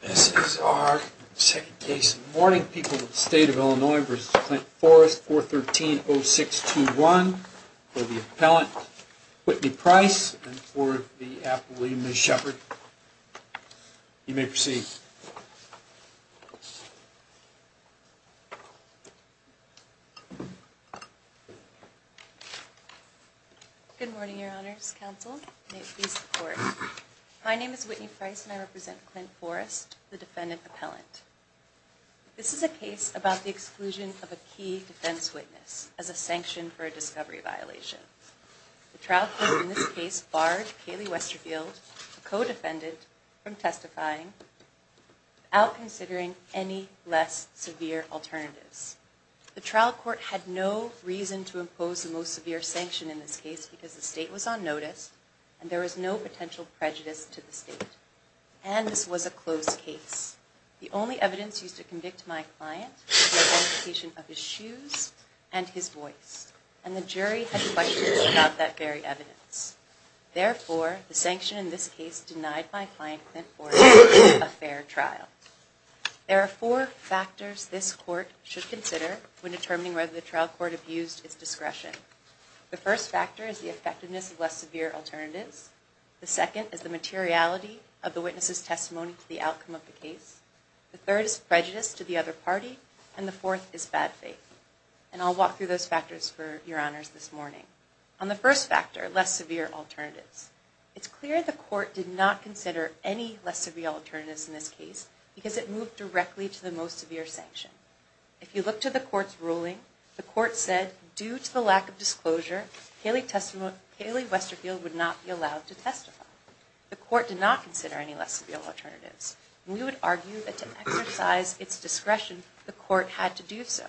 This is our second case of warning people in the state of Illinois v. Clint Forrest, 413-0621, for the appellant Whitney Price and for the appellee Ms. Shepard. You may proceed. Good morning, Your Honors Counsel. My name is Whitney Price and I represent Clint Forrest, the defendant appellant. This is a case about the exclusion of a key defense witness as a sanction for a discovery violation. The trial court in this case barred Kaylee Westerfield, a co-defendant, from testifying without considering any less severe alternatives. The trial court had no reason to impose the most severe sanction in this case because the state was on notice and there was no potential prejudice to the state. And this was a closed case. The only evidence used to convict my client was the identification of his shoes and his voice, and the jury had questions about that very evidence. Therefore, the sanction in this case denied my client Clint Forrest a fair trial. There are four factors this court should consider when determining whether the trial court abused its discretion. The first factor is the effectiveness of less severe alternatives. The second is the materiality of the witness's testimony to the outcome of the case. The third is prejudice to the other party. And the fourth is bad faith. And I'll walk through those factors for Your Honors this morning. On the first factor, less severe alternatives, it's clear the court did not consider any less severe alternatives in this case because it moved directly to the most severe sanction. If you look to the court's ruling, the court said due to the lack of disclosure, Kaylee Westerfield would not be allowed to testify. The court did not consider any less severe alternatives. We would argue that to exercise its discretion, the court had to do so.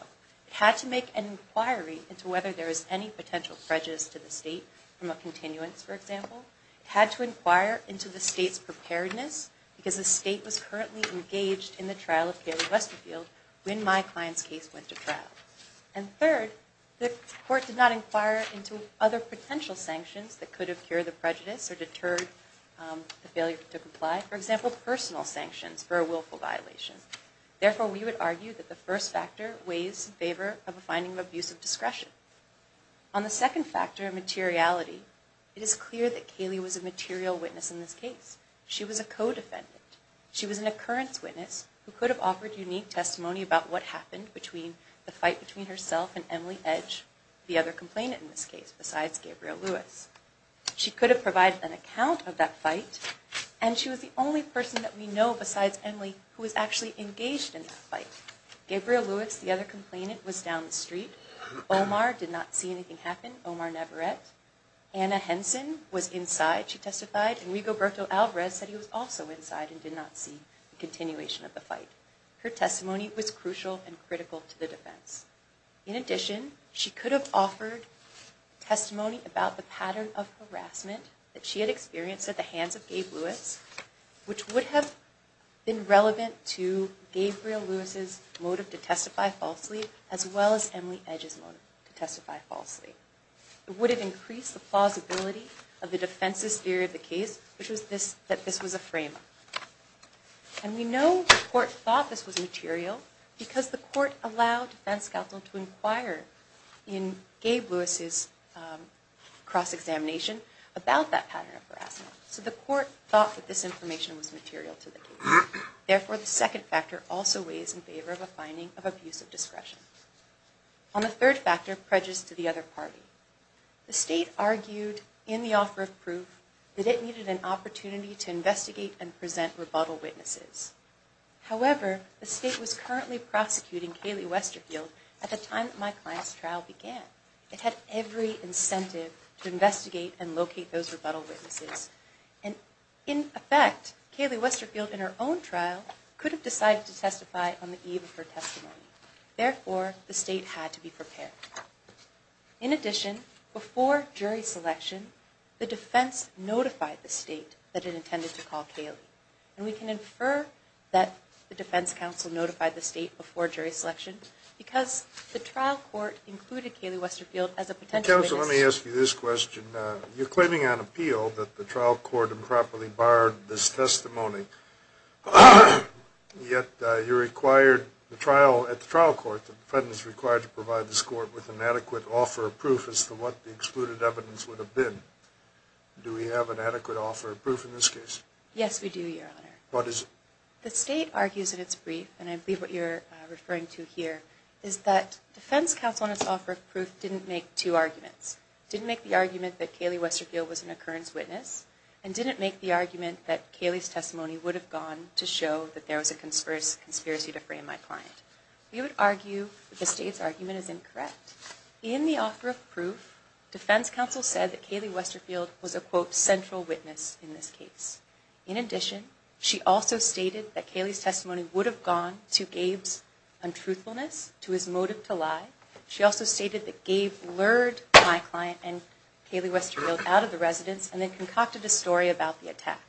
It had to make an inquiry into whether there was any potential prejudice to the state from a continuance, for example. It had to inquire into the state's preparedness because the state was currently engaged in the trial of Kaylee Westerfield when my client's case went to trial. And third, the court did not inquire into other potential sanctions that could have cured the prejudice or deterred the failure to comply. Therefore, we would argue that the first factor weighs in favor of a finding of abusive discretion. On the second factor of materiality, it is clear that Kaylee was a material witness in this case. She was a co-defendant. She was an occurrence witness who could have offered unique testimony about what happened between the fight between herself and Emily Edge, the other complainant in this case, besides Gabriel Lewis. She could have provided an account of that fight, and she was the only person that we know besides Emily who was actually engaged in that fight. Gabriel Lewis, the other complainant, was down the street. Omar did not see anything happen, Omar Navarrete. Anna Henson was inside, she testified, and Rigoberto Alvarez said he was also inside and did not see the continuation of the fight. Her testimony was crucial and critical to the defense. In addition, she could have offered testimony about the pattern of harassment that she had experienced at the hands of Gabe Lewis, which would have been relevant to Gabriel Lewis' motive to testify falsely, as well as Emily Edge's motive to testify falsely. It would have increased the plausibility of the defense's theory of the case, which was that this was a frame-up. And we know the court thought this was material because the court allowed defense counsel to inquire in Gabe Lewis' cross-examination about that pattern of harassment. So the court thought that this information was material to the case. Therefore, the second factor also weighs in favor of a finding of abusive discretion. On the third factor, prejudice to the other party. The state argued in the offer of proof that it needed an opportunity to investigate and present rebuttal witnesses. However, the state was currently prosecuting Kaylee Westerfield at the time that my client's trial began. It had every incentive to investigate and locate those rebuttal witnesses. And in effect, Kaylee Westerfield, in her own trial, could have decided to testify on the eve of her testimony. Therefore, the state had to be prepared. In addition, before jury selection, the defense notified the state that it intended to call Kaylee. And we can infer that the defense counsel notified the state before jury selection because the trial court included Kaylee Westerfield as a potential witness. So let me ask you this question. You're claiming on appeal that the trial court improperly barred this testimony, yet you required the trial at the trial court, the defendants required to provide this court with an adequate offer of proof as to what the excluded evidence would have been. Do we have an adequate offer of proof in this case? Yes, we do, Your Honor. What is it? The state argues in its brief, and I believe what you're referring to here, is that defense counsel in its offer of proof didn't make two arguments. Didn't make the argument that Kaylee Westerfield was an occurrence witness and didn't make the argument that Kaylee's testimony would have gone to show that there was a conspiracy to frame my client. We would argue that the state's argument is incorrect. In the offer of proof, defense counsel said that Kaylee Westerfield was a quote, central witness in this case. In addition, she also stated that Kaylee's testimony would have gone to Gabe's untruthfulness, to his motive to lie. She also stated that Gabe lured my client and Kaylee Westerfield out of the residence and then concocted a story about the attack.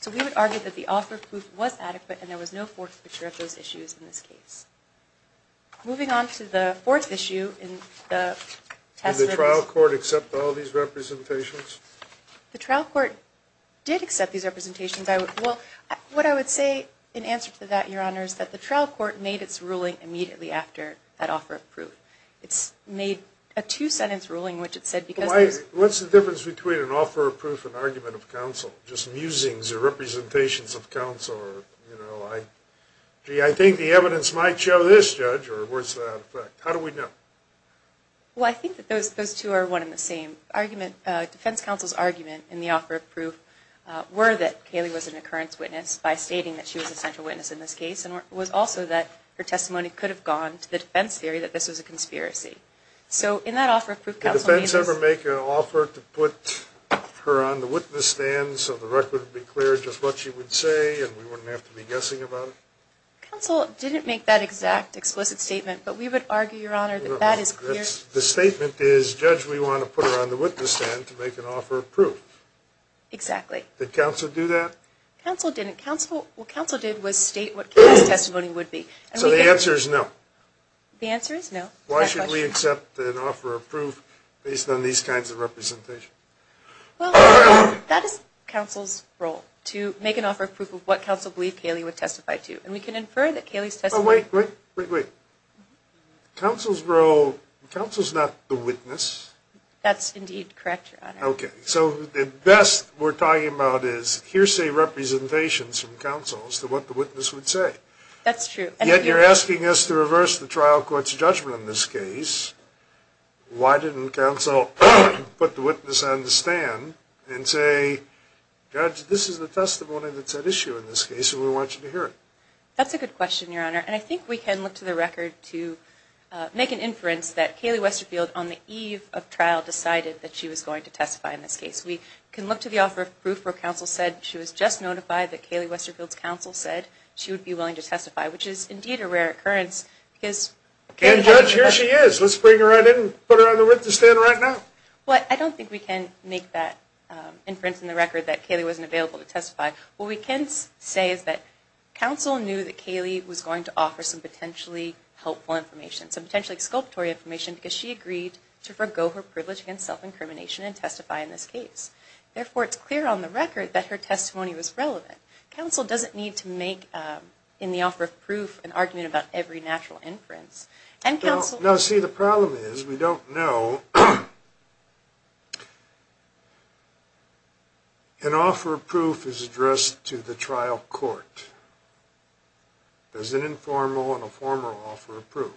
So we would argue that the offer of proof was adequate and there was no forfeiture of those issues in this case. Moving on to the fourth issue in the test limits. Did the trial court accept all these representations? The trial court did accept these representations. Well, what I would say in answer to that, Your Honor, is that the trial court made its ruling immediately after that offer of proof. It's made a two-sentence ruling, which it said because... What's the difference between an offer of proof and argument of counsel? Just musings or representations of counsel or, you know, gee, I think the evidence might show this, Judge, or where's that effect? How do we know? Well, I think that those two are one and the same. The defense counsel's argument in the offer of proof were that Kaylee was an occurrence witness by stating that she was a central witness in this case and was also that her testimony could have gone to the defense theory that this was a conspiracy. So in that offer of proof, counsel... Did the defense ever make an offer to put her on the witness stand so the record would be clear just what she would say and we wouldn't have to be guessing about it? Counsel didn't make that exact explicit statement, but we would argue, Your Honor, that that is clear. The statement is, Judge, we want to put her on the witness stand to make an offer of proof. Exactly. Did counsel do that? Counsel didn't. What counsel did was state what Kaylee's testimony would be. So the answer is no? The answer is no. Why should we accept an offer of proof based on these kinds of representations? Well, that is counsel's role, to make an offer of proof of what counsel believed Kaylee would testify to. And we can infer that Kaylee's testimony... Wait, wait, wait. Counsel's role... Counsel's not the witness. That's indeed correct, Your Honor. Okay. So the best we're talking about is hearsay representations from counsel as to what the witness would say. That's true. Yet you're asking us to reverse the trial court's judgment in this case. Why didn't counsel put the witness on the stand and say, Judge, this is the testimony that's at issue in this case and we want you to hear it? That's a good question, Your Honor. And I think we can look to the record to make an inference that Kaylee Westerfield, on the eve of trial, decided that she was going to testify in this case. We can look to the offer of proof where counsel said she was just notified that Kaylee Westerfield's counsel said she would be willing to testify, which is indeed a rare occurrence because... And, Judge, here she is. Let's bring her right in and put her on the witness stand right now. Well, I don't think we can make that inference in the record that Kaylee wasn't available to testify. What we can say is that counsel knew that Kaylee was going to offer some potentially helpful information, some potentially exculpatory information, because she agreed to forego her privilege against self-incrimination and testify in this case. Therefore, it's clear on the record that her testimony was relevant. Counsel doesn't need to make, in the offer of proof, an argument about every natural inference. Now, see, the problem is we don't know... An offer of proof is addressed to the trial court. There's an informal and a formal offer of proof.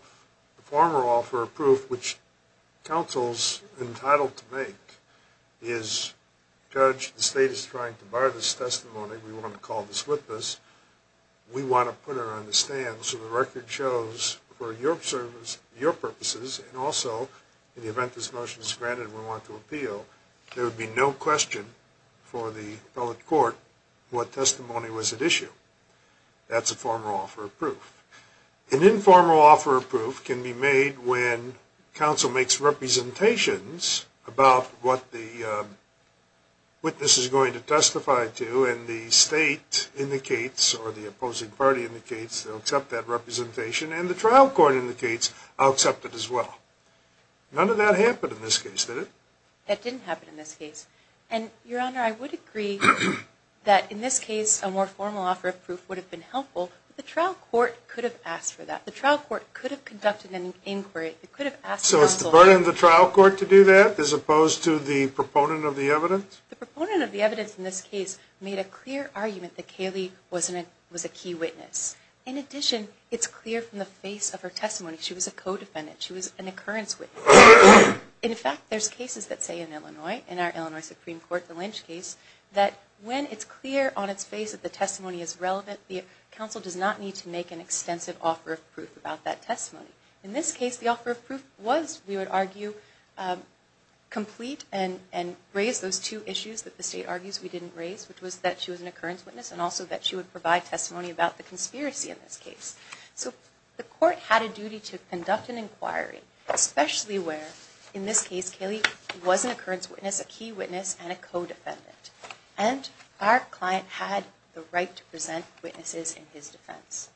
The formal offer of proof, which counsel's entitled to make, is, Judge, the state is trying to bar this testimony. We want to call this witness. We want to put her on the stand so the record shows, for your purposes, and also in the event this motion is granted and we want to appeal, there would be no question for the appellate court what testimony was at issue. That's a formal offer of proof. An informal offer of proof can be made when counsel makes representations about what the witness is going to testify to, and the state indicates, or the opposing party indicates, they'll accept that representation, and the trial court indicates, I'll accept it as well. None of that happened in this case, did it? That didn't happen in this case. And, Your Honor, I would agree that in this case a more formal offer of proof would have been helpful, but the trial court could have asked for that. The trial court could have conducted an inquiry. So it's the burden of the trial court to do that as opposed to the proponent of the evidence? The proponent of the evidence in this case made a clear argument that Caylee was a key witness. In addition, it's clear from the face of her testimony she was a co-defendant. She was an occurrence witness. In fact, there's cases that say in Illinois, in our Illinois Supreme Court, the Lynch case, that when it's clear on its face that the testimony is relevant, the counsel does not need to make an extensive offer of proof about that testimony. In this case, the offer of proof was, we would argue, complete and raised those two issues that the state argues we didn't raise, which was that she was an occurrence witness and also that she would provide testimony about the conspiracy in this case. So the court had a duty to conduct an inquiry, especially where, in this case, Caylee was an occurrence witness, a key witness, and a co-defendant. And our client had the right to present witnesses in his defense.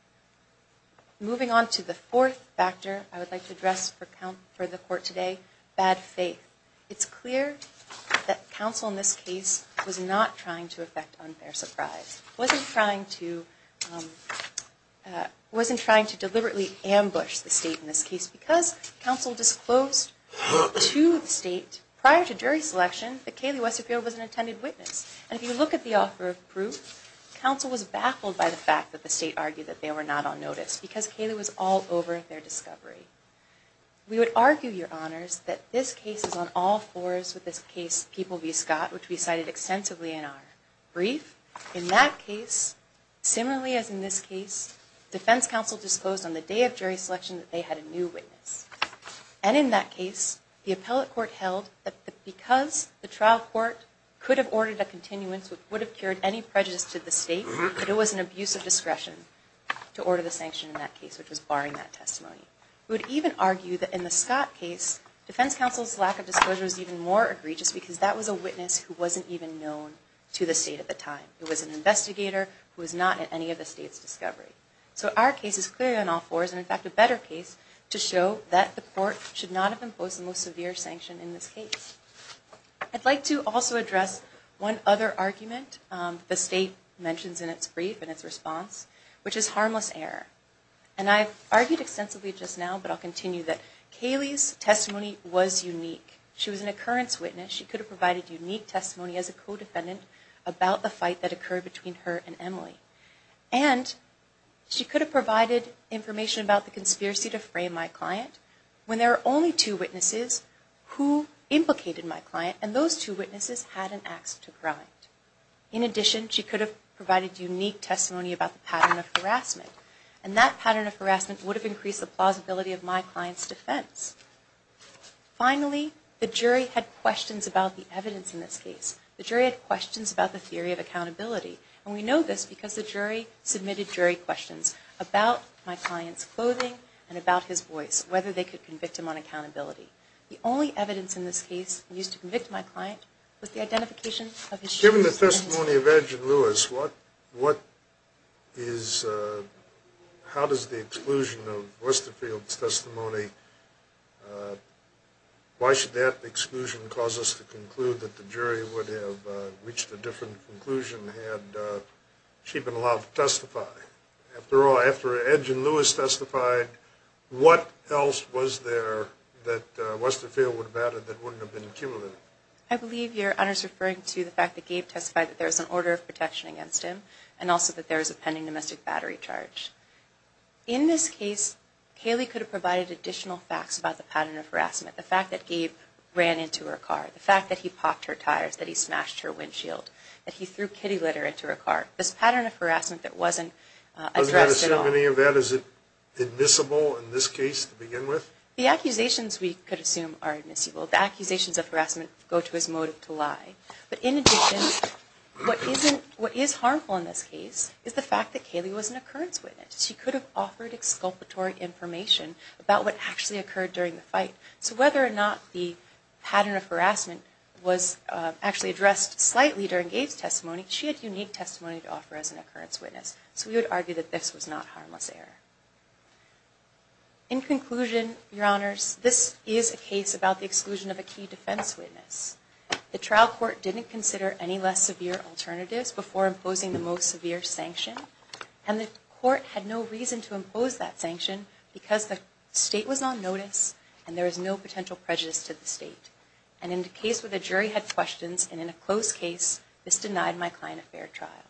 Moving on to the fourth factor I would like to address for the court today, bad faith. It's clear that counsel in this case was not trying to effect unfair surprise, wasn't trying to deliberately ambush the state in this case because counsel disclosed to the state prior to jury selection that Caylee Westerfield was an attended witness. And if you look at the offer of proof, counsel was baffled by the fact that the state argued that they were not on notice because Caylee was all over their discovery. We would argue, your honors, that this case is on all fours with this case People v. Scott, which we cited extensively in our brief. In that case, similarly as in this case, defense counsel disclosed on the day of jury selection that they had a new witness. And in that case, the appellate court held that because the trial court could have ordered a continuance which would have cured any prejudice to the state, that it was an abuse of discretion to order the sanction in that case, which was barring that testimony. We would even argue that in the Scott case, defense counsel's lack of disclosure was even more egregious because that was a witness who wasn't even known to the state at the time. It was an investigator who was not at any of the state's discovery. So our case is clearly on all fours, and in fact a better case, to show that the court should not have imposed the most severe sanction in this case. I'd like to also address one other argument the state mentions in its brief, in its response, which is harmless error. And I've argued extensively just now, but I'll continue, that Caylee's testimony was unique. She was an occurrence witness. She could have provided unique testimony as a co-defendant about the fight that occurred between her and Emily. And she could have provided information about the conspiracy to frame my client when there were only two witnesses who implicated my client, and those two witnesses had an ax to grind. In addition, she could have provided unique testimony about the pattern of harassment, and that pattern of harassment would have increased the plausibility of my client's defense. Finally, the jury had questions about the evidence in this case. The jury had questions about the theory of accountability, and we know this because the jury submitted jury questions about my client's clothing and about his voice, whether they could convict him on accountability. The only evidence in this case used to convict my client was the identification of his shoes. Given the testimony of Edge and Lewis, how does the exclusion of Westerfield's testimony, why should that exclusion cause us to conclude that the jury would have reached a different conclusion had she been allowed to testify? After all, after Edge and Lewis testified, what else was there that Westerfield would have added that wouldn't have been accumulated? I believe your Honor is referring to the fact that Gabe testified that there was an order of protection against him, and also that there was a pending domestic battery charge. In this case, Kaylee could have provided additional facts about the pattern of harassment, the fact that Gabe ran into her car, the fact that he popped her tires, that he smashed her windshield, that he threw kitty litter into her car. This pattern of harassment that wasn't addressed at all. Does that assume any of that? Is it admissible in this case to begin with? The accusations we could assume are admissible. The accusations of harassment go to his motive to lie. But in addition, what is harmful in this case is the fact that Kaylee was an occurrence witness. She could have offered exculpatory information about what actually occurred during the fight. So whether or not the pattern of harassment was actually addressed slightly during Gabe's testimony, she had unique testimony to offer as an occurrence witness. So we would argue that this was not harmless error. In conclusion, your Honors, this is a case about the exclusion of a key defense witness. The trial court didn't consider any less severe alternatives before imposing the most severe sanction, and the court had no reason to impose that sanction because the state was on notice and there was no potential prejudice to the state. And in the case where the jury had questions, and in a closed case, this denied my client a fair trial.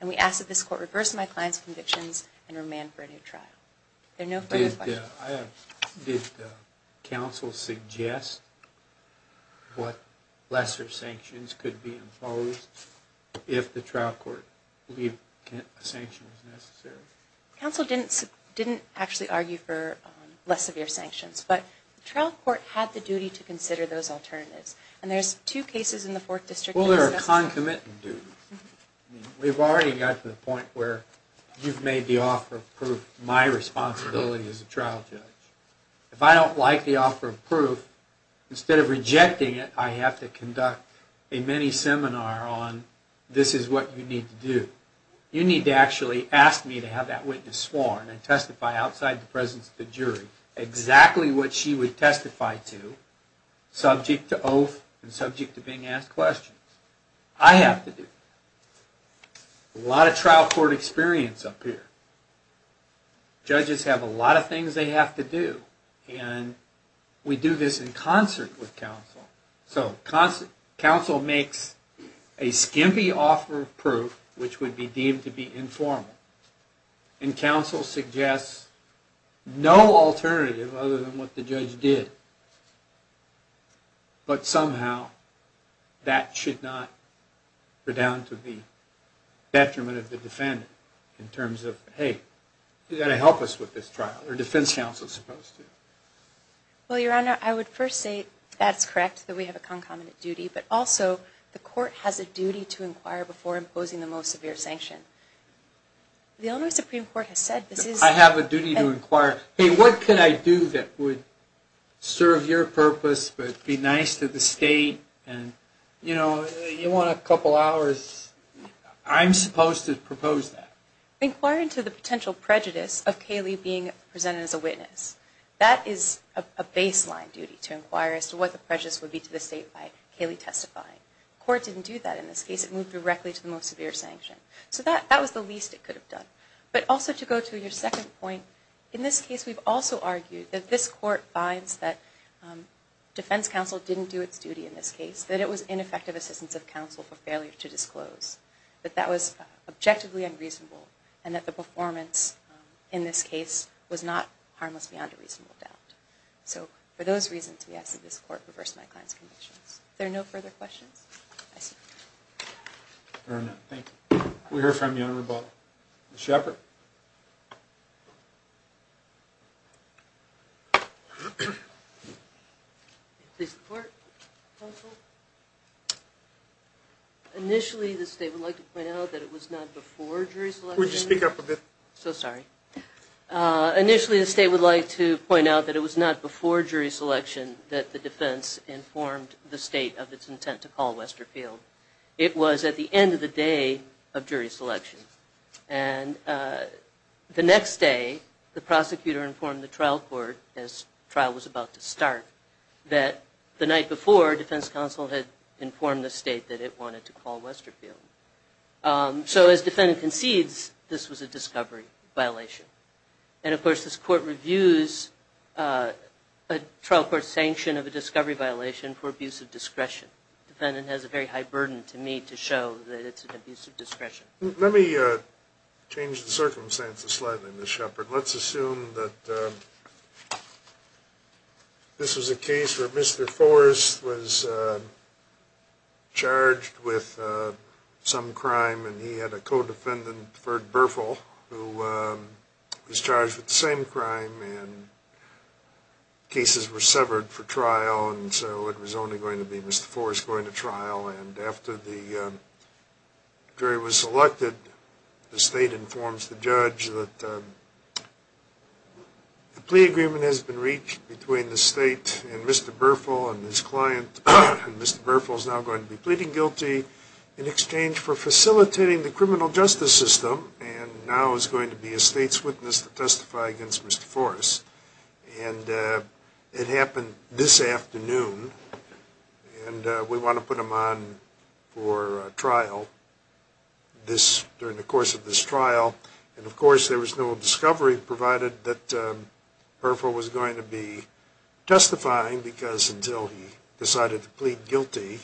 And we ask that this court reverse my client's convictions and remand for a new trial. There are no further questions. Did counsel suggest what lesser sanctions could be imposed if the trial court believed a sanction was necessary? Counsel didn't actually argue for less severe sanctions, but the trial court had the duty to consider those alternatives. And there's two cases in the Fourth District... Well, there are concomitant duties. We've already got to the point where you've made the offer of proof. My responsibility as a trial judge. If I don't like the offer of proof, instead of rejecting it, I have to conduct a mini-seminar on this is what you need to do. You need to actually ask me to have that witness sworn and testify outside the presence of the jury exactly what she would testify to, subject to oath and subject to being asked questions. I have to do that. A lot of trial court experience up here. Judges have a lot of things they have to do. And we do this in concert with counsel. So counsel makes a skimpy offer of proof, which would be deemed to be informal. And counsel suggests no alternative other than what the judge did. But somehow that should not be down to the detriment of the defendant in terms of, hey, you've got to help us with this trial, or defense counsel is supposed to. Well, Your Honor, I would first say that's correct, that we have a concomitant duty. But also the court has a duty to inquire before imposing the most severe sanction. The Illinois Supreme Court has said this is... I have a duty to inquire. Hey, what can I do that would serve your purpose but be nice to the state? And, you know, you want a couple hours. I'm supposed to propose that. Inquiring to the potential prejudice of Caylee being presented as a witness. That is a baseline duty, to inquire as to what the prejudice would be to the state by Caylee testifying. The court didn't do that in this case. It moved directly to the most severe sanction. So that was the least it could have done. But also to go to your second point, in this case we've also argued that this court finds that defense counsel didn't do its duty in this case, that it was ineffective assistance of counsel for failure to disclose, that that was objectively unreasonable, and that the performance in this case was not harmless beyond a reasonable doubt. So for those reasons, we ask that this court reverse my client's convictions. Are there no further questions? I see none. Fair enough. Thank you. We'll hear from you on rebuttal. Ms. Shepard. Please report, counsel. Initially, the state would like to point out that it was not before jury selection. Would you speak up a bit? So sorry. Initially, the state would like to point out that it was not before jury selection that the defense informed the state of its intent to call Westerfield. It was at the end of the day of jury selection. And the next day, the prosecutor informed the trial court, as trial was about to start, that the night before, defense counsel had informed the state that it wanted to call Westerfield. So as defendant concedes, this was a discovery violation. And, of course, this court reviews a trial court's sanction of a discovery violation for abuse of discretion. The defendant has a very high burden to me to show that it's an abuse of discretion. Let me change the circumstances slightly, Ms. Shepard. Let's assume that this was a case where Mr. Forrest was charged with some crime, and he had a co-defendant, Ferg Berfel, who was charged with the same crime. And cases were severed for trial, and so it was only going to be Mr. Forrest going to trial. And after the jury was selected, the state informs the judge that the plea agreement has been reached between the state and Mr. Berfel and his client. And Mr. Berfel is now going to be pleading guilty in exchange for facilitating the criminal justice system, and now is going to be a state's witness to testify against Mr. Forrest. And it happened this afternoon, and we want to put him on for trial during the course of this trial. And, of course, there was no discovery, provided that Berfel was going to be testifying, because until he decided to plead guilty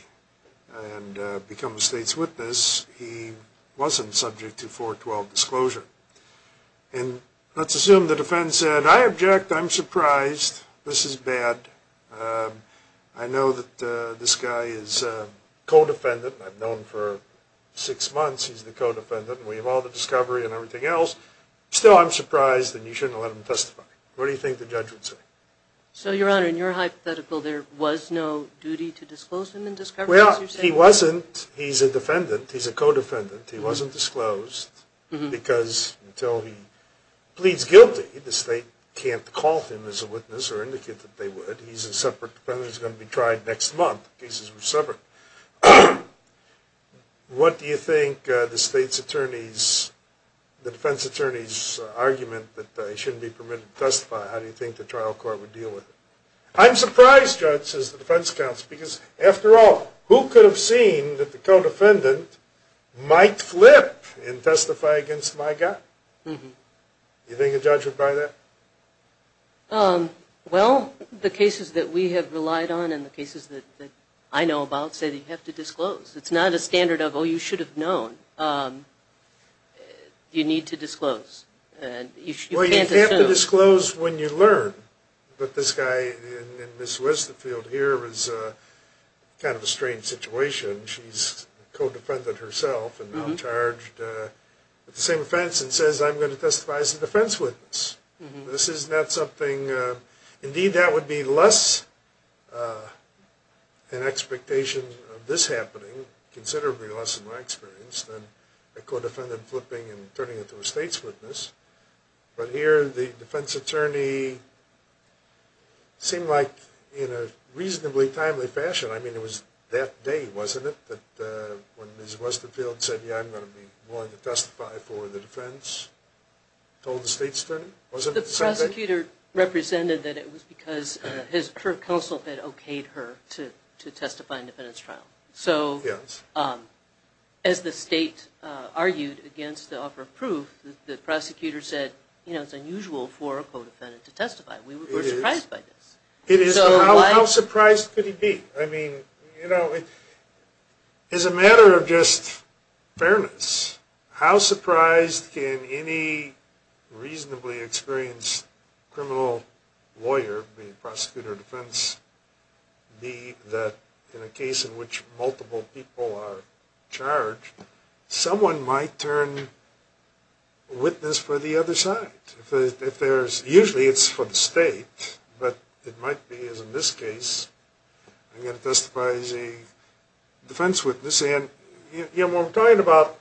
and become a state's witness, he wasn't subject to 412 disclosure. And let's assume the defense said, I object. I'm surprised. This is bad. I know that this guy is a co-defendant. I've known him for six months. He's the co-defendant. We have all the discovery and everything else. Still, I'm surprised, and you shouldn't have let him testify. What do you think the judge would say? So, Your Honor, in your hypothetical, there was no duty to disclose him in discovery, as you say? Well, he wasn't. He's a defendant. He's a co-defendant. He wasn't disclosed, because until he pleads guilty, the state can't call him as a witness or indicate that they would. He's a separate defendant. He's going to be tried next month. The cases were separate. What do you think the defense attorney's argument that he shouldn't be permitted to testify, how do you think the trial court would deal with it? I'm surprised, Judge, says the defense counsel, because, after all, who could have seen that the co-defendant might flip and testify against my guy? Do you think the judge would buy that? Well, the cases that we have relied on and the cases that I know about say that you have to disclose. It's not a standard of, oh, you should have known. You need to disclose. Well, you have to disclose when you learn. But this guy in Ms. Westfield here is kind of a strange situation. She's a co-defendant herself and now charged with the same offense and says, I'm going to testify as a defense witness. This is not something, indeed, that would be less an expectation of this happening, considerably less in my experience, than a co-defendant flipping and turning into a state's witness. But here the defense attorney seemed like, in a reasonably timely fashion, I mean, it was that day, wasn't it, that when Ms. Westfield said, yeah, I'm going to be willing to testify for the defense, told the state's attorney, wasn't it the same thing? The prosecutor represented that it was because her counsel had okayed her to testify in the defense trial. So as the state argued against the offer of proof, the prosecutor said, you know, it's unusual for a co-defendant to testify. We were surprised by this. How surprised could he be? I mean, you know, as a matter of just fairness, how surprised can any reasonably experienced criminal lawyer, be it prosecutor or defense, be that in a case in which multiple people are charged, someone might turn witness for the other side? Usually it's for the state, but it might be, as in this case, I'm going to testify as a defense witness. And, you know, when I'm talking about,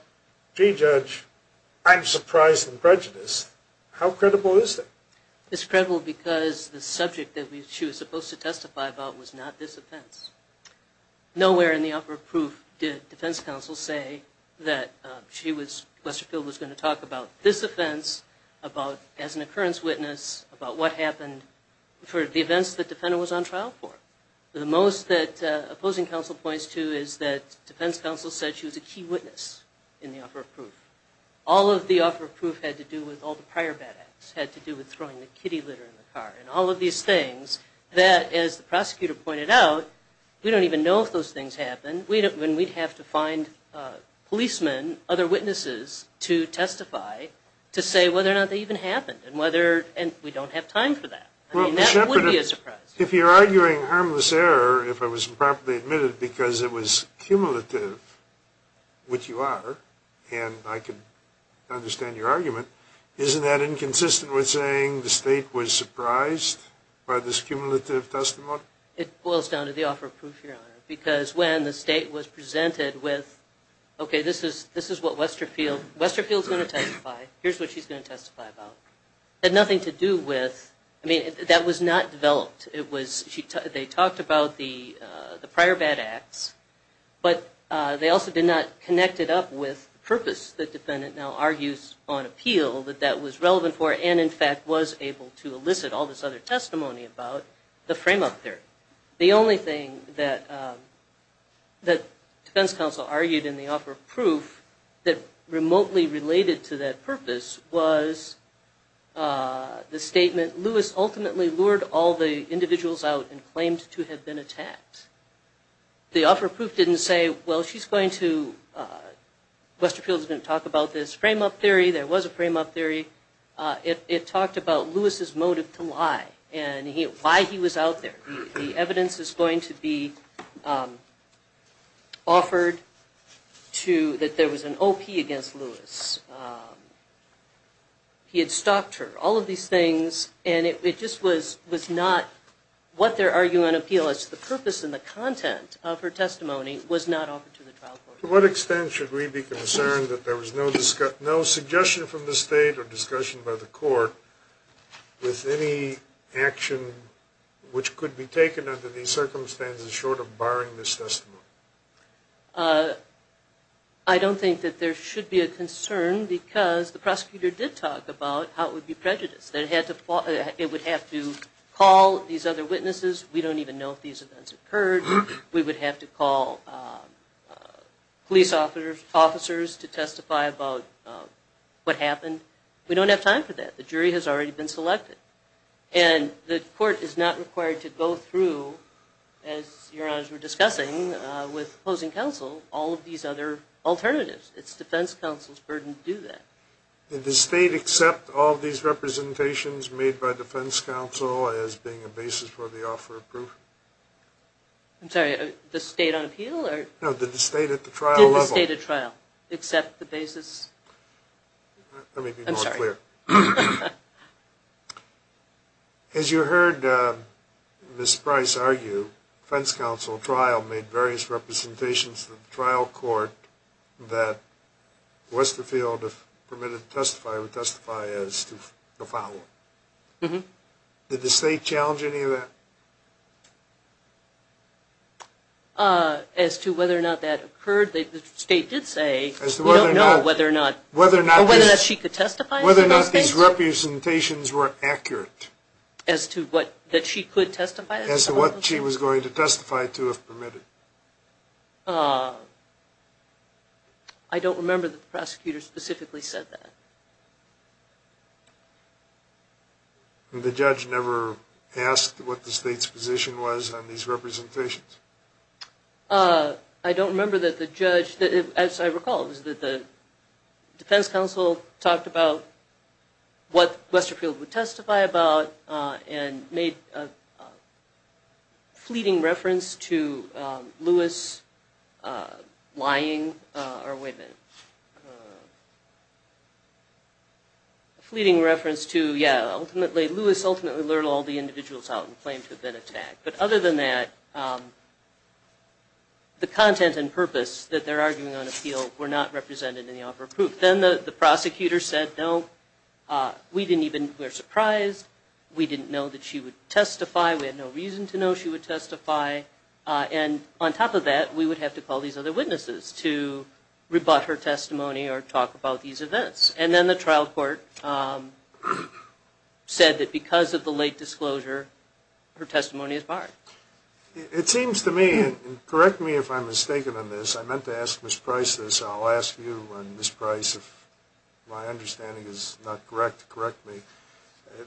gee, Judge, I'm surprised and prejudiced, how credible is that? It's credible because the subject that she was supposed to testify about was not this offense. Nowhere in the offer of proof did defense counsel say that she was, Westfield was going to talk about this offense, about as an occurrence witness, about what happened for the events the defendant was on trial for. The most that opposing counsel points to is that defense counsel said she was a key witness in the offer of proof. All of the offer of proof had to do with all the prior bad acts, had to do with throwing the kitty litter in the car, and all of these things that, as the prosecutor pointed out, we don't even know if those things happened, when we'd have to find policemen, other witnesses, to testify to say whether or not they even happened, and whether, and we don't have time for that. I mean, that would be a surprise. If you're arguing harmless error, if I was improperly admitted because it was cumulative, which you are, and I can understand your argument, isn't that inconsistent with saying the state was surprised by this cumulative testimony? It boils down to the offer of proof, Your Honor, because when the state was presented with, okay, this is what Westerfield's going to testify, here's what she's going to testify about. It had nothing to do with, I mean, that was not developed. They talked about the prior bad acts, but they also did not connect it up with the purpose the defendant now argues on appeal that that was relevant for, and, in fact, was able to elicit all this other testimony about, the frame up there. The only thing that defense counsel argued in the offer of proof that remotely related to that purpose was the statement, that Lewis ultimately lured all the individuals out and claimed to have been attacked. The offer of proof didn't say, well, she's going to, Westerfield's going to talk about this frame up theory, there was a frame up theory. It talked about Lewis's motive to lie, and why he was out there. The evidence is going to be offered to, that there was an OP against Lewis. He had stalked her. All of these things, and it just was not what they're arguing on appeal. It's the purpose and the content of her testimony was not offered to the trial court. To what extent should we be concerned that there was no suggestion from the state or discussion by the court with any action which could be taken under these circumstances short of barring this testimony? I don't think that there should be a concern because the prosecutor did talk about how it would be prejudiced. It would have to call these other witnesses. We don't even know if these events occurred. We would have to call police officers to testify about what happened. We don't have time for that. The jury has already been selected. The court is not required to go through, as Your Honors were discussing with opposing counsel, all of these other alternatives. It's defense counsel's burden to do that. Did the state accept all of these representations made by defense counsel as being a basis for the offer of proof? I'm sorry, the state on appeal? No, the state at the trial level. Did the state at trial accept the basis? Let me be more clear. As you heard Ms. Price argue, defense counsel at trial made various representations to the trial court that Westerfield permitted to testify would testify as to the following. Did the state challenge any of that? As to whether or not that occurred, the state did say we don't know whether or not she could testify. Whether or not these representations were accurate. As to what she could testify? As to what she was going to testify to if permitted. I don't remember that the prosecutor specifically said that. The judge never asked what the state's position was on these representations? I don't remember that the judge, as I recall, the defense counsel talked about what Westerfield would testify about and made a fleeting reference to Lewis lying, or wait a minute, fleeting reference to, yeah, Lewis ultimately lured all the individuals out and claimed to have been attacked. But other than that, the content and purpose that they're arguing on appeal were not represented in the offer of proof. Then the prosecutor said, no, we didn't even, we're surprised. We didn't know that she would testify. We had no reason to know she would testify. And on top of that, we would have to call these other witnesses to rebut her testimony or talk about these events. And then the trial court said that because of the late disclosure, her testimony is barred. It seems to me, and correct me if I'm mistaken on this, I meant to ask Ms. Price this. I'll ask you and Ms. Price if my understanding is not correct to correct me.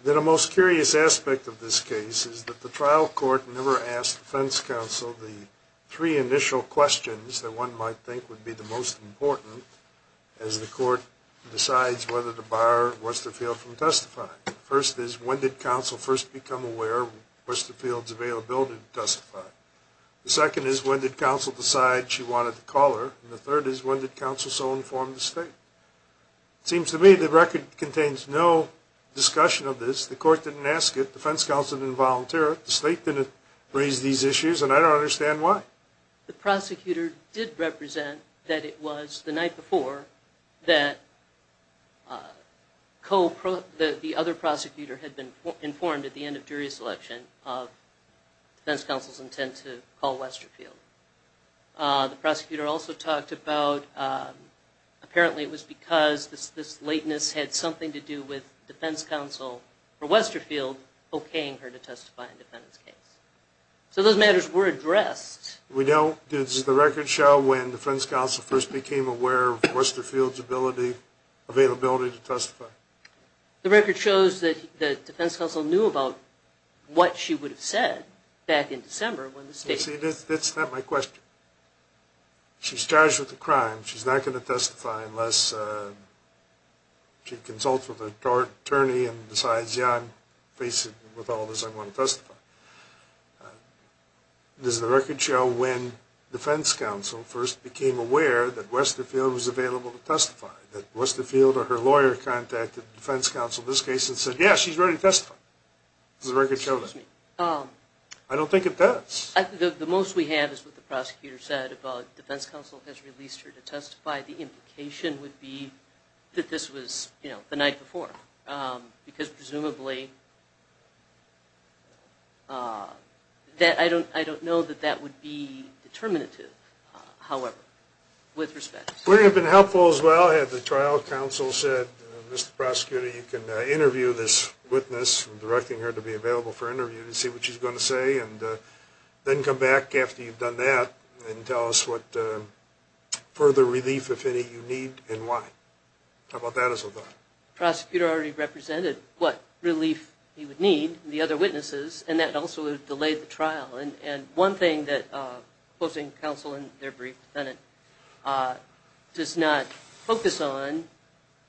The most curious aspect of this case is that the trial court never asked the defense counsel the three initial questions that one might think would be the most important as the court decides whether to bar Worcester Field from testifying. The first is, when did counsel first become aware of Worcester Field's availability to testify? The second is, when did counsel decide she wanted to call her? And the third is, when did counsel so inform the state? It seems to me the record contains no discussion of this. The court didn't ask it. The defense counsel didn't volunteer it. The state didn't raise these issues, and I don't understand why. But the prosecutor did represent that it was the night before that the other prosecutor had been informed at the end of jury selection of defense counsel's intent to call Worcester Field. The prosecutor also talked about, apparently it was because this lateness had something to do with defense counsel for Worcester Field okaying her to testify in defendant's case. So those matters were addressed. We don't. Does the record show when defense counsel first became aware of Worcester Field's availability to testify? The record shows that the defense counsel knew about what she would have said back in December when the state… See, that's not my question. She's charged with a crime. She's not going to testify unless she consults with an attorney and decides, yeah, I'm facing with all this, I'm going to testify. Does the record show when defense counsel first became aware that Worcester Field was available to testify, that Worcester Field or her lawyer contacted defense counsel in this case and said, yeah, she's ready to testify? Does the record show that? Excuse me. I don't think it does. The most we have is what the prosecutor said about defense counsel has released her to testify. The implication would be that this was, you know, the night before because presumably… I don't know that that would be determinative, however, with respect. Would it have been helpful as well had the trial counsel said, Mr. Prosecutor, you can interview this witness, directing her to be available for interview to see what she's going to say, and then come back after you've done that and tell us what further relief, if any, you need and why? How about that as a thought? The prosecutor already represented what relief he would need, the other witnesses, and that also would have delayed the trial. And one thing that opposing counsel in their brief does not focus on,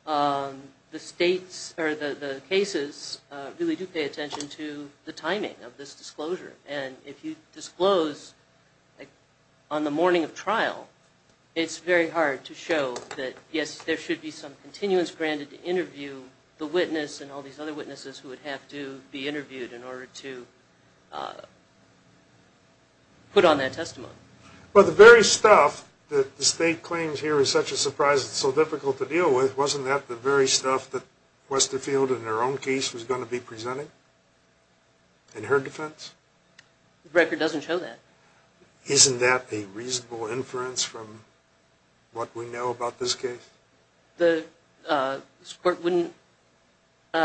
the states or the cases really do pay attention to the timing of this disclosure. And if you disclose on the morning of trial, it's very hard to show that, yes, there should be some continuance granted to interview the witness and all these other witnesses who would have to be interviewed in order to put on that testimony. But the very stuff that the state claims here is such a surprise, it's so difficult to deal with, wasn't that the very stuff that Westerfield in her own case was going to be presenting in her defense? The record doesn't show that. Isn't that a reasonable inference from what we know about this case? That it was a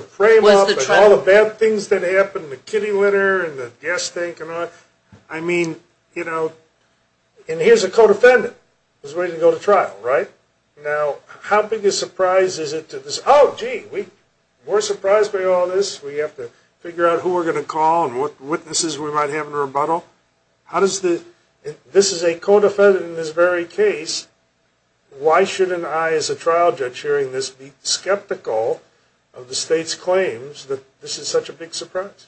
frame-up and all the bad things that happened, the kitty litter and the gas tank and all that? I mean, you know, and here's a co-defendant who's waiting to go to trial, right? Now, how big a surprise is it to this, oh, gee, we're surprised by all this, we have to figure out who we're going to call and what witnesses we might have in a rebuttal? This is a co-defendant in this very case. Why shouldn't I, as a trial judge hearing this, be skeptical of the state's claims that this is such a big surprise?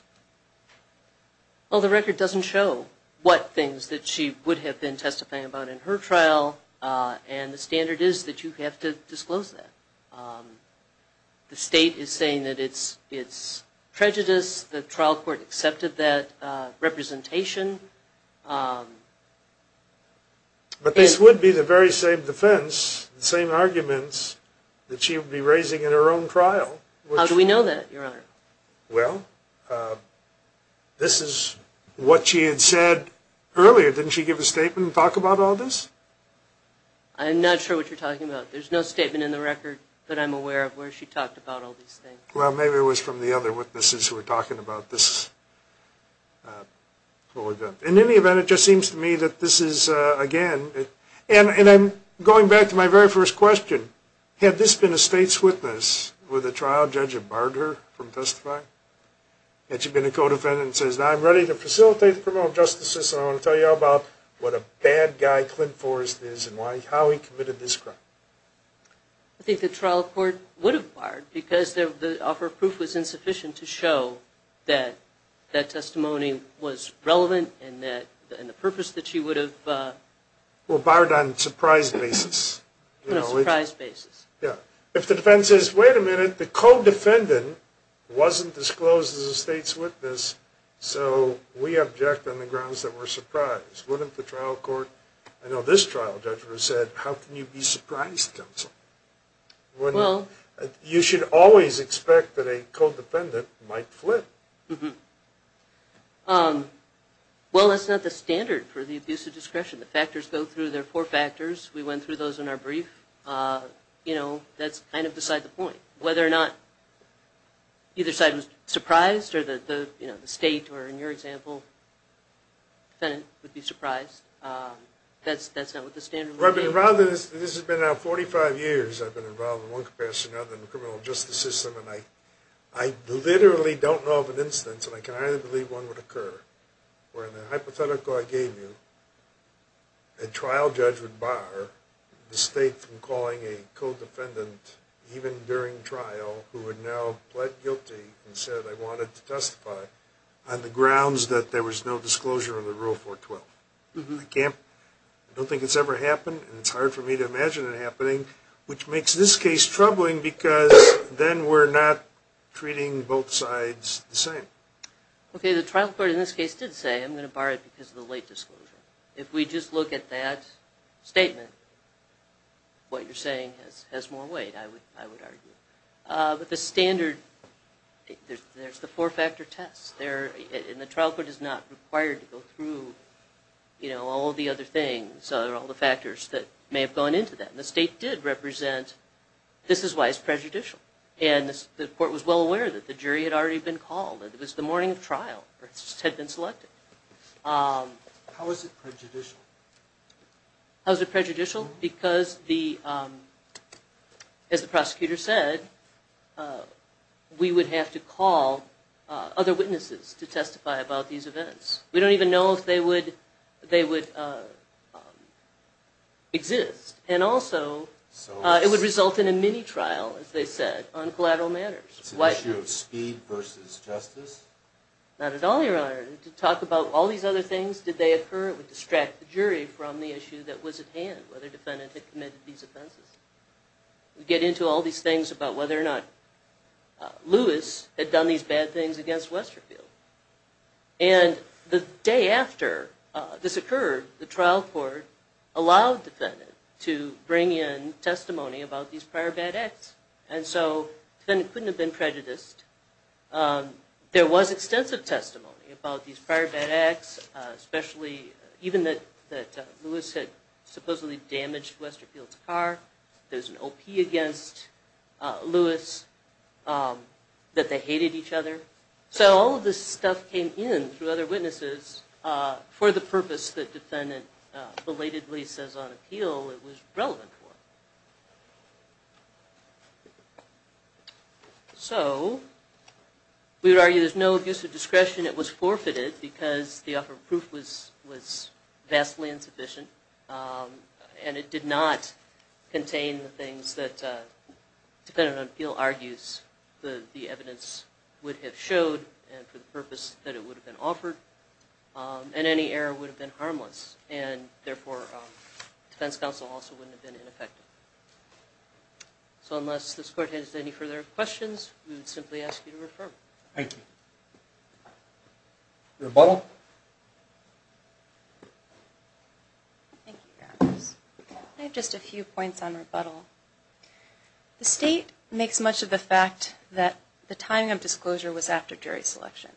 Well, the record doesn't show what things that she would have been testifying about in her trial, and the standard is that you have to disclose that. The state is saying that it's prejudice, the trial court accepted that representation. But this would be the very same defense, the same arguments that she would be raising in her own trial. How do we know that, Your Honor? Well, this is what she had said earlier. Didn't she give a statement and talk about all this? I'm not sure what you're talking about. There's no statement in the record that I'm aware of where she talked about all these things. Well, maybe it was from the other witnesses who were talking about this whole event. In any event, it just seems to me that this is, again, and going back to my very first question, had this been a state's witness with a trial judge who barred her from testifying? Had she been a co-defendant who says, now I'm ready to facilitate the criminal justice system, and I want to tell you all about what a bad guy Clint Forrest is and how he committed this crime? I think the trial court would have barred, because the offer of proof was insufficient to show that that testimony was relevant and the purpose that she would have... Well, barred on a surprise basis. On a surprise basis. Yeah. If the defense says, wait a minute, the co-defendant wasn't disclosed as a state's witness, so we object on the grounds that we're surprised. Wouldn't the trial court... I know this trial judge said, how can you be surprised, counsel? Well... You should always expect that a co-defendant might flip. Mm-hmm. Well, that's not the standard for the abuse of discretion. The factors go through. There are four factors. We went through those in our brief. You know, that's kind of beside the point. Whether or not either side was surprised, or the state, or in your example, the defendant would be surprised, that's not what the standard would be. Rather, this has been now 45 years I've been involved in one capacity or another in the criminal justice system, and I literally don't know of an instance, and I can hardly believe one would occur, where in the hypothetical I gave you, a trial judge would bar the state from calling a co-defendant even during trial who had now pled guilty and said, I wanted to testify on the grounds that there was no disclosure of the Rule 412. Mm-hmm. I don't think it's ever happened, and it's hard for me to imagine it happening, which makes this case troubling because then we're not treating both sides the same. Okay, the trial court in this case did say, I'm going to bar it because of the late disclosure. If we just look at that statement, what you're saying has more weight, I would argue. But the standard, there's the four-factor test, and the trial court is not required to go through all of the other things or all the factors that may have gone into that, and the state did represent, this is why it's prejudicial. And the court was well aware that the jury had already been called, that it was the morning of trial, or it had been selected. How is it prejudicial? How is it prejudicial? Because, as the prosecutor said, we would have to call other witnesses to testify about these events. We don't even know if they would exist. And also, it would result in a mini-trial, as they said, on collateral matters. It's an issue of speed versus justice? Not at all, Your Honor. To talk about all these other things, did they occur, it would distract the jury from the issue that was at hand, whether the defendant had committed these offenses. We get into all these things about whether or not Lewis had done these bad things against Westerfield. And the day after this occurred, the trial court allowed the defendant to bring in testimony about these prior bad acts. And so, the defendant couldn't have been prejudiced. There was extensive testimony about these prior bad acts, especially even that Lewis had supposedly damaged Westerfield's car. There was an OP against Lewis, that they hated each other. So, all of this stuff came in through other witnesses for the purpose that the defendant belatedly says on appeal it was relevant for. So, we would argue there's no abuse of discretion. It was forfeited because the offer of proof was vastly insufficient. And it did not contain the things that, depending on appeal argues, the evidence would have showed and for the purpose that it would have been offered. And any error would have been harmless. And, therefore, defense counsel also wouldn't have been ineffective. So, unless this court has any further questions, we would simply ask you to refer. Thank you. Rebuttal? Thank you, Your Honors. I have just a few points on rebuttal. The state makes much of the fact that the timing of disclosure was after jury selection.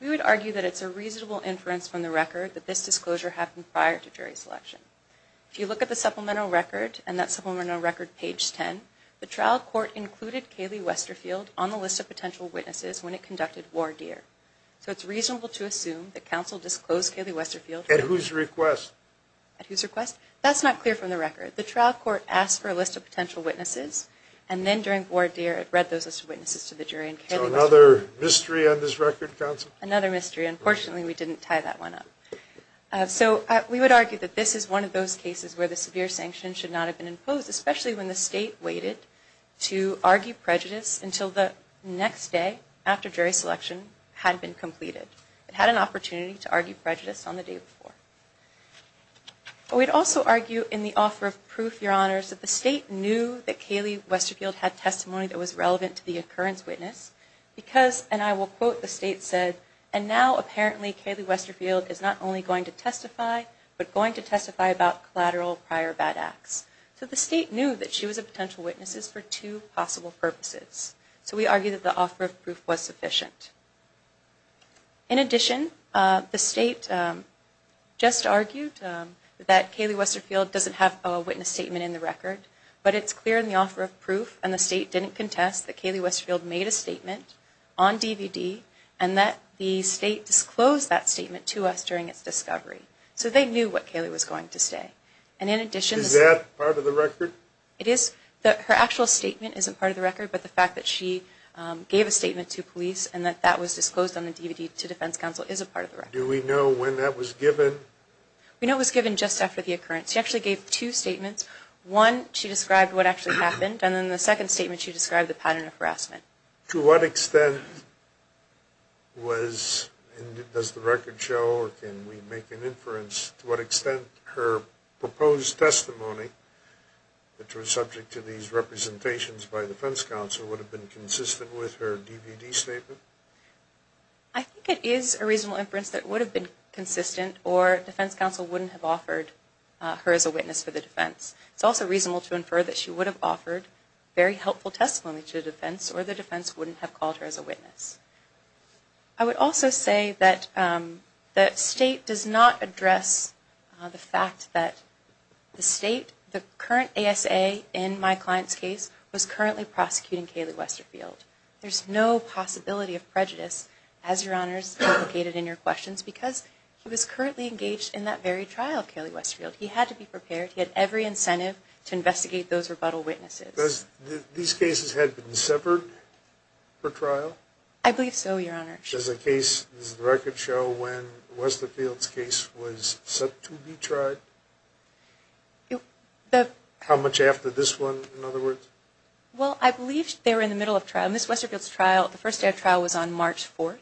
We would argue that it's a reasonable inference from the record that this disclosure happened prior to jury selection. If you look at the supplemental record, and that supplemental record, page 10, the trial court included Kaylee Westerfield on the list of potential witnesses when it conducted voir dire. So, it's reasonable to assume that counsel disclosed Kaylee Westerfield. At whose request? At whose request? That's not clear from the record. The trial court asked for a list of potential witnesses, and then during voir dire, it read those as witnesses to the jury. So, another mystery on this record, counsel? Another mystery. Unfortunately, we didn't tie that one up. So, we would argue that this is one of those cases where the severe sanction should not have been imposed, especially when the state waited to argue prejudice until the next day after jury selection had been completed. It had an opportunity to argue prejudice on the day before. We'd also argue in the offer of proof, Your Honors, that the state knew that Kaylee Westerfield had testimony that was relevant to the occurrence witness, because, and I will quote, the state said, and now apparently Kaylee Westerfield is not only going to testify, but going to testify about collateral prior bad acts. So, the state knew that she was a potential witness for two possible purposes. In addition, the state just argued that Kaylee Westerfield doesn't have a witness statement in the record, but it's clear in the offer of proof, and the state didn't contest, that Kaylee Westerfield made a statement on DVD, and that the state disclosed that statement to us during its discovery. So, they knew what Kaylee was going to say. Is that part of the record? It is. Her actual statement isn't part of the record, but the fact that she gave a statement to police, and that that was disclosed on the DVD to defense counsel is a part of the record. Do we know when that was given? We know it was given just after the occurrence. She actually gave two statements. One, she described what actually happened, and then the second statement she described the pattern of harassment. To what extent was, and does the record show, or can we make an inference to what extent her proposed testimony, which was subject to these representations by defense counsel, would have been consistent with her DVD statement? I think it is a reasonable inference that it would have been consistent, or defense counsel wouldn't have offered her as a witness for the defense. It's also reasonable to infer that she would have offered very helpful testimony to the defense, I would also say that the state does not address the fact that the state, the current ASA in my client's case, was currently prosecuting Kaylee Westerfield. There's no possibility of prejudice, as Your Honors indicated in your questions, because he was currently engaged in that very trial of Kaylee Westerfield. He had to be prepared. He had every incentive to investigate those rebuttal witnesses. These cases had been severed for trial? I believe so, Your Honor. Does the record show when Westerfield's case was set to be tried? How much after this one, in other words? Well, I believe they were in the middle of trial. Ms. Westerfield's first day of trial was on March 4,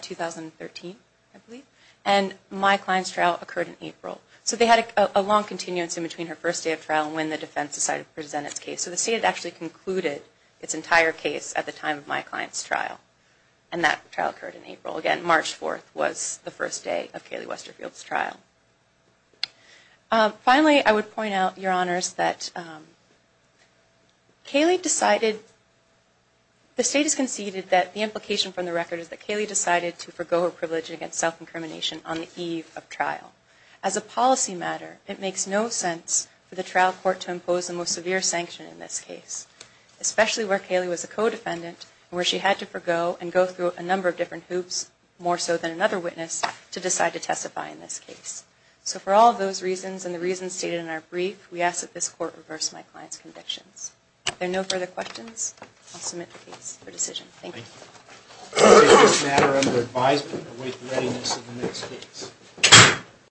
2013, I believe, and my client's trial occurred in April. So they had a long continuance in between her first day of trial and when the defense decided to present its case. So the state had actually concluded its entire case at the time of my client's trial, and that trial occurred in April. Again, March 4 was the first day of Kaylee Westerfield's trial. Finally, I would point out, Your Honors, that Kaylee decided, the state has conceded that the implication from the record is that Kaylee decided to forego her privilege against self-incrimination on the eve of trial. As a policy matter, it makes no sense for the trial court to impose the most severe sanction in this case, especially where Kaylee was a co-defendant and where she had to forego and go through a number of different hoops, more so than another witness, to decide to testify in this case. So for all of those reasons and the reasons stated in our brief, we ask that this court reverse my client's convictions. Are there no further questions? I'll submit the case for decision. Thank you. Is there any matter under advisement to await the readiness of the next case?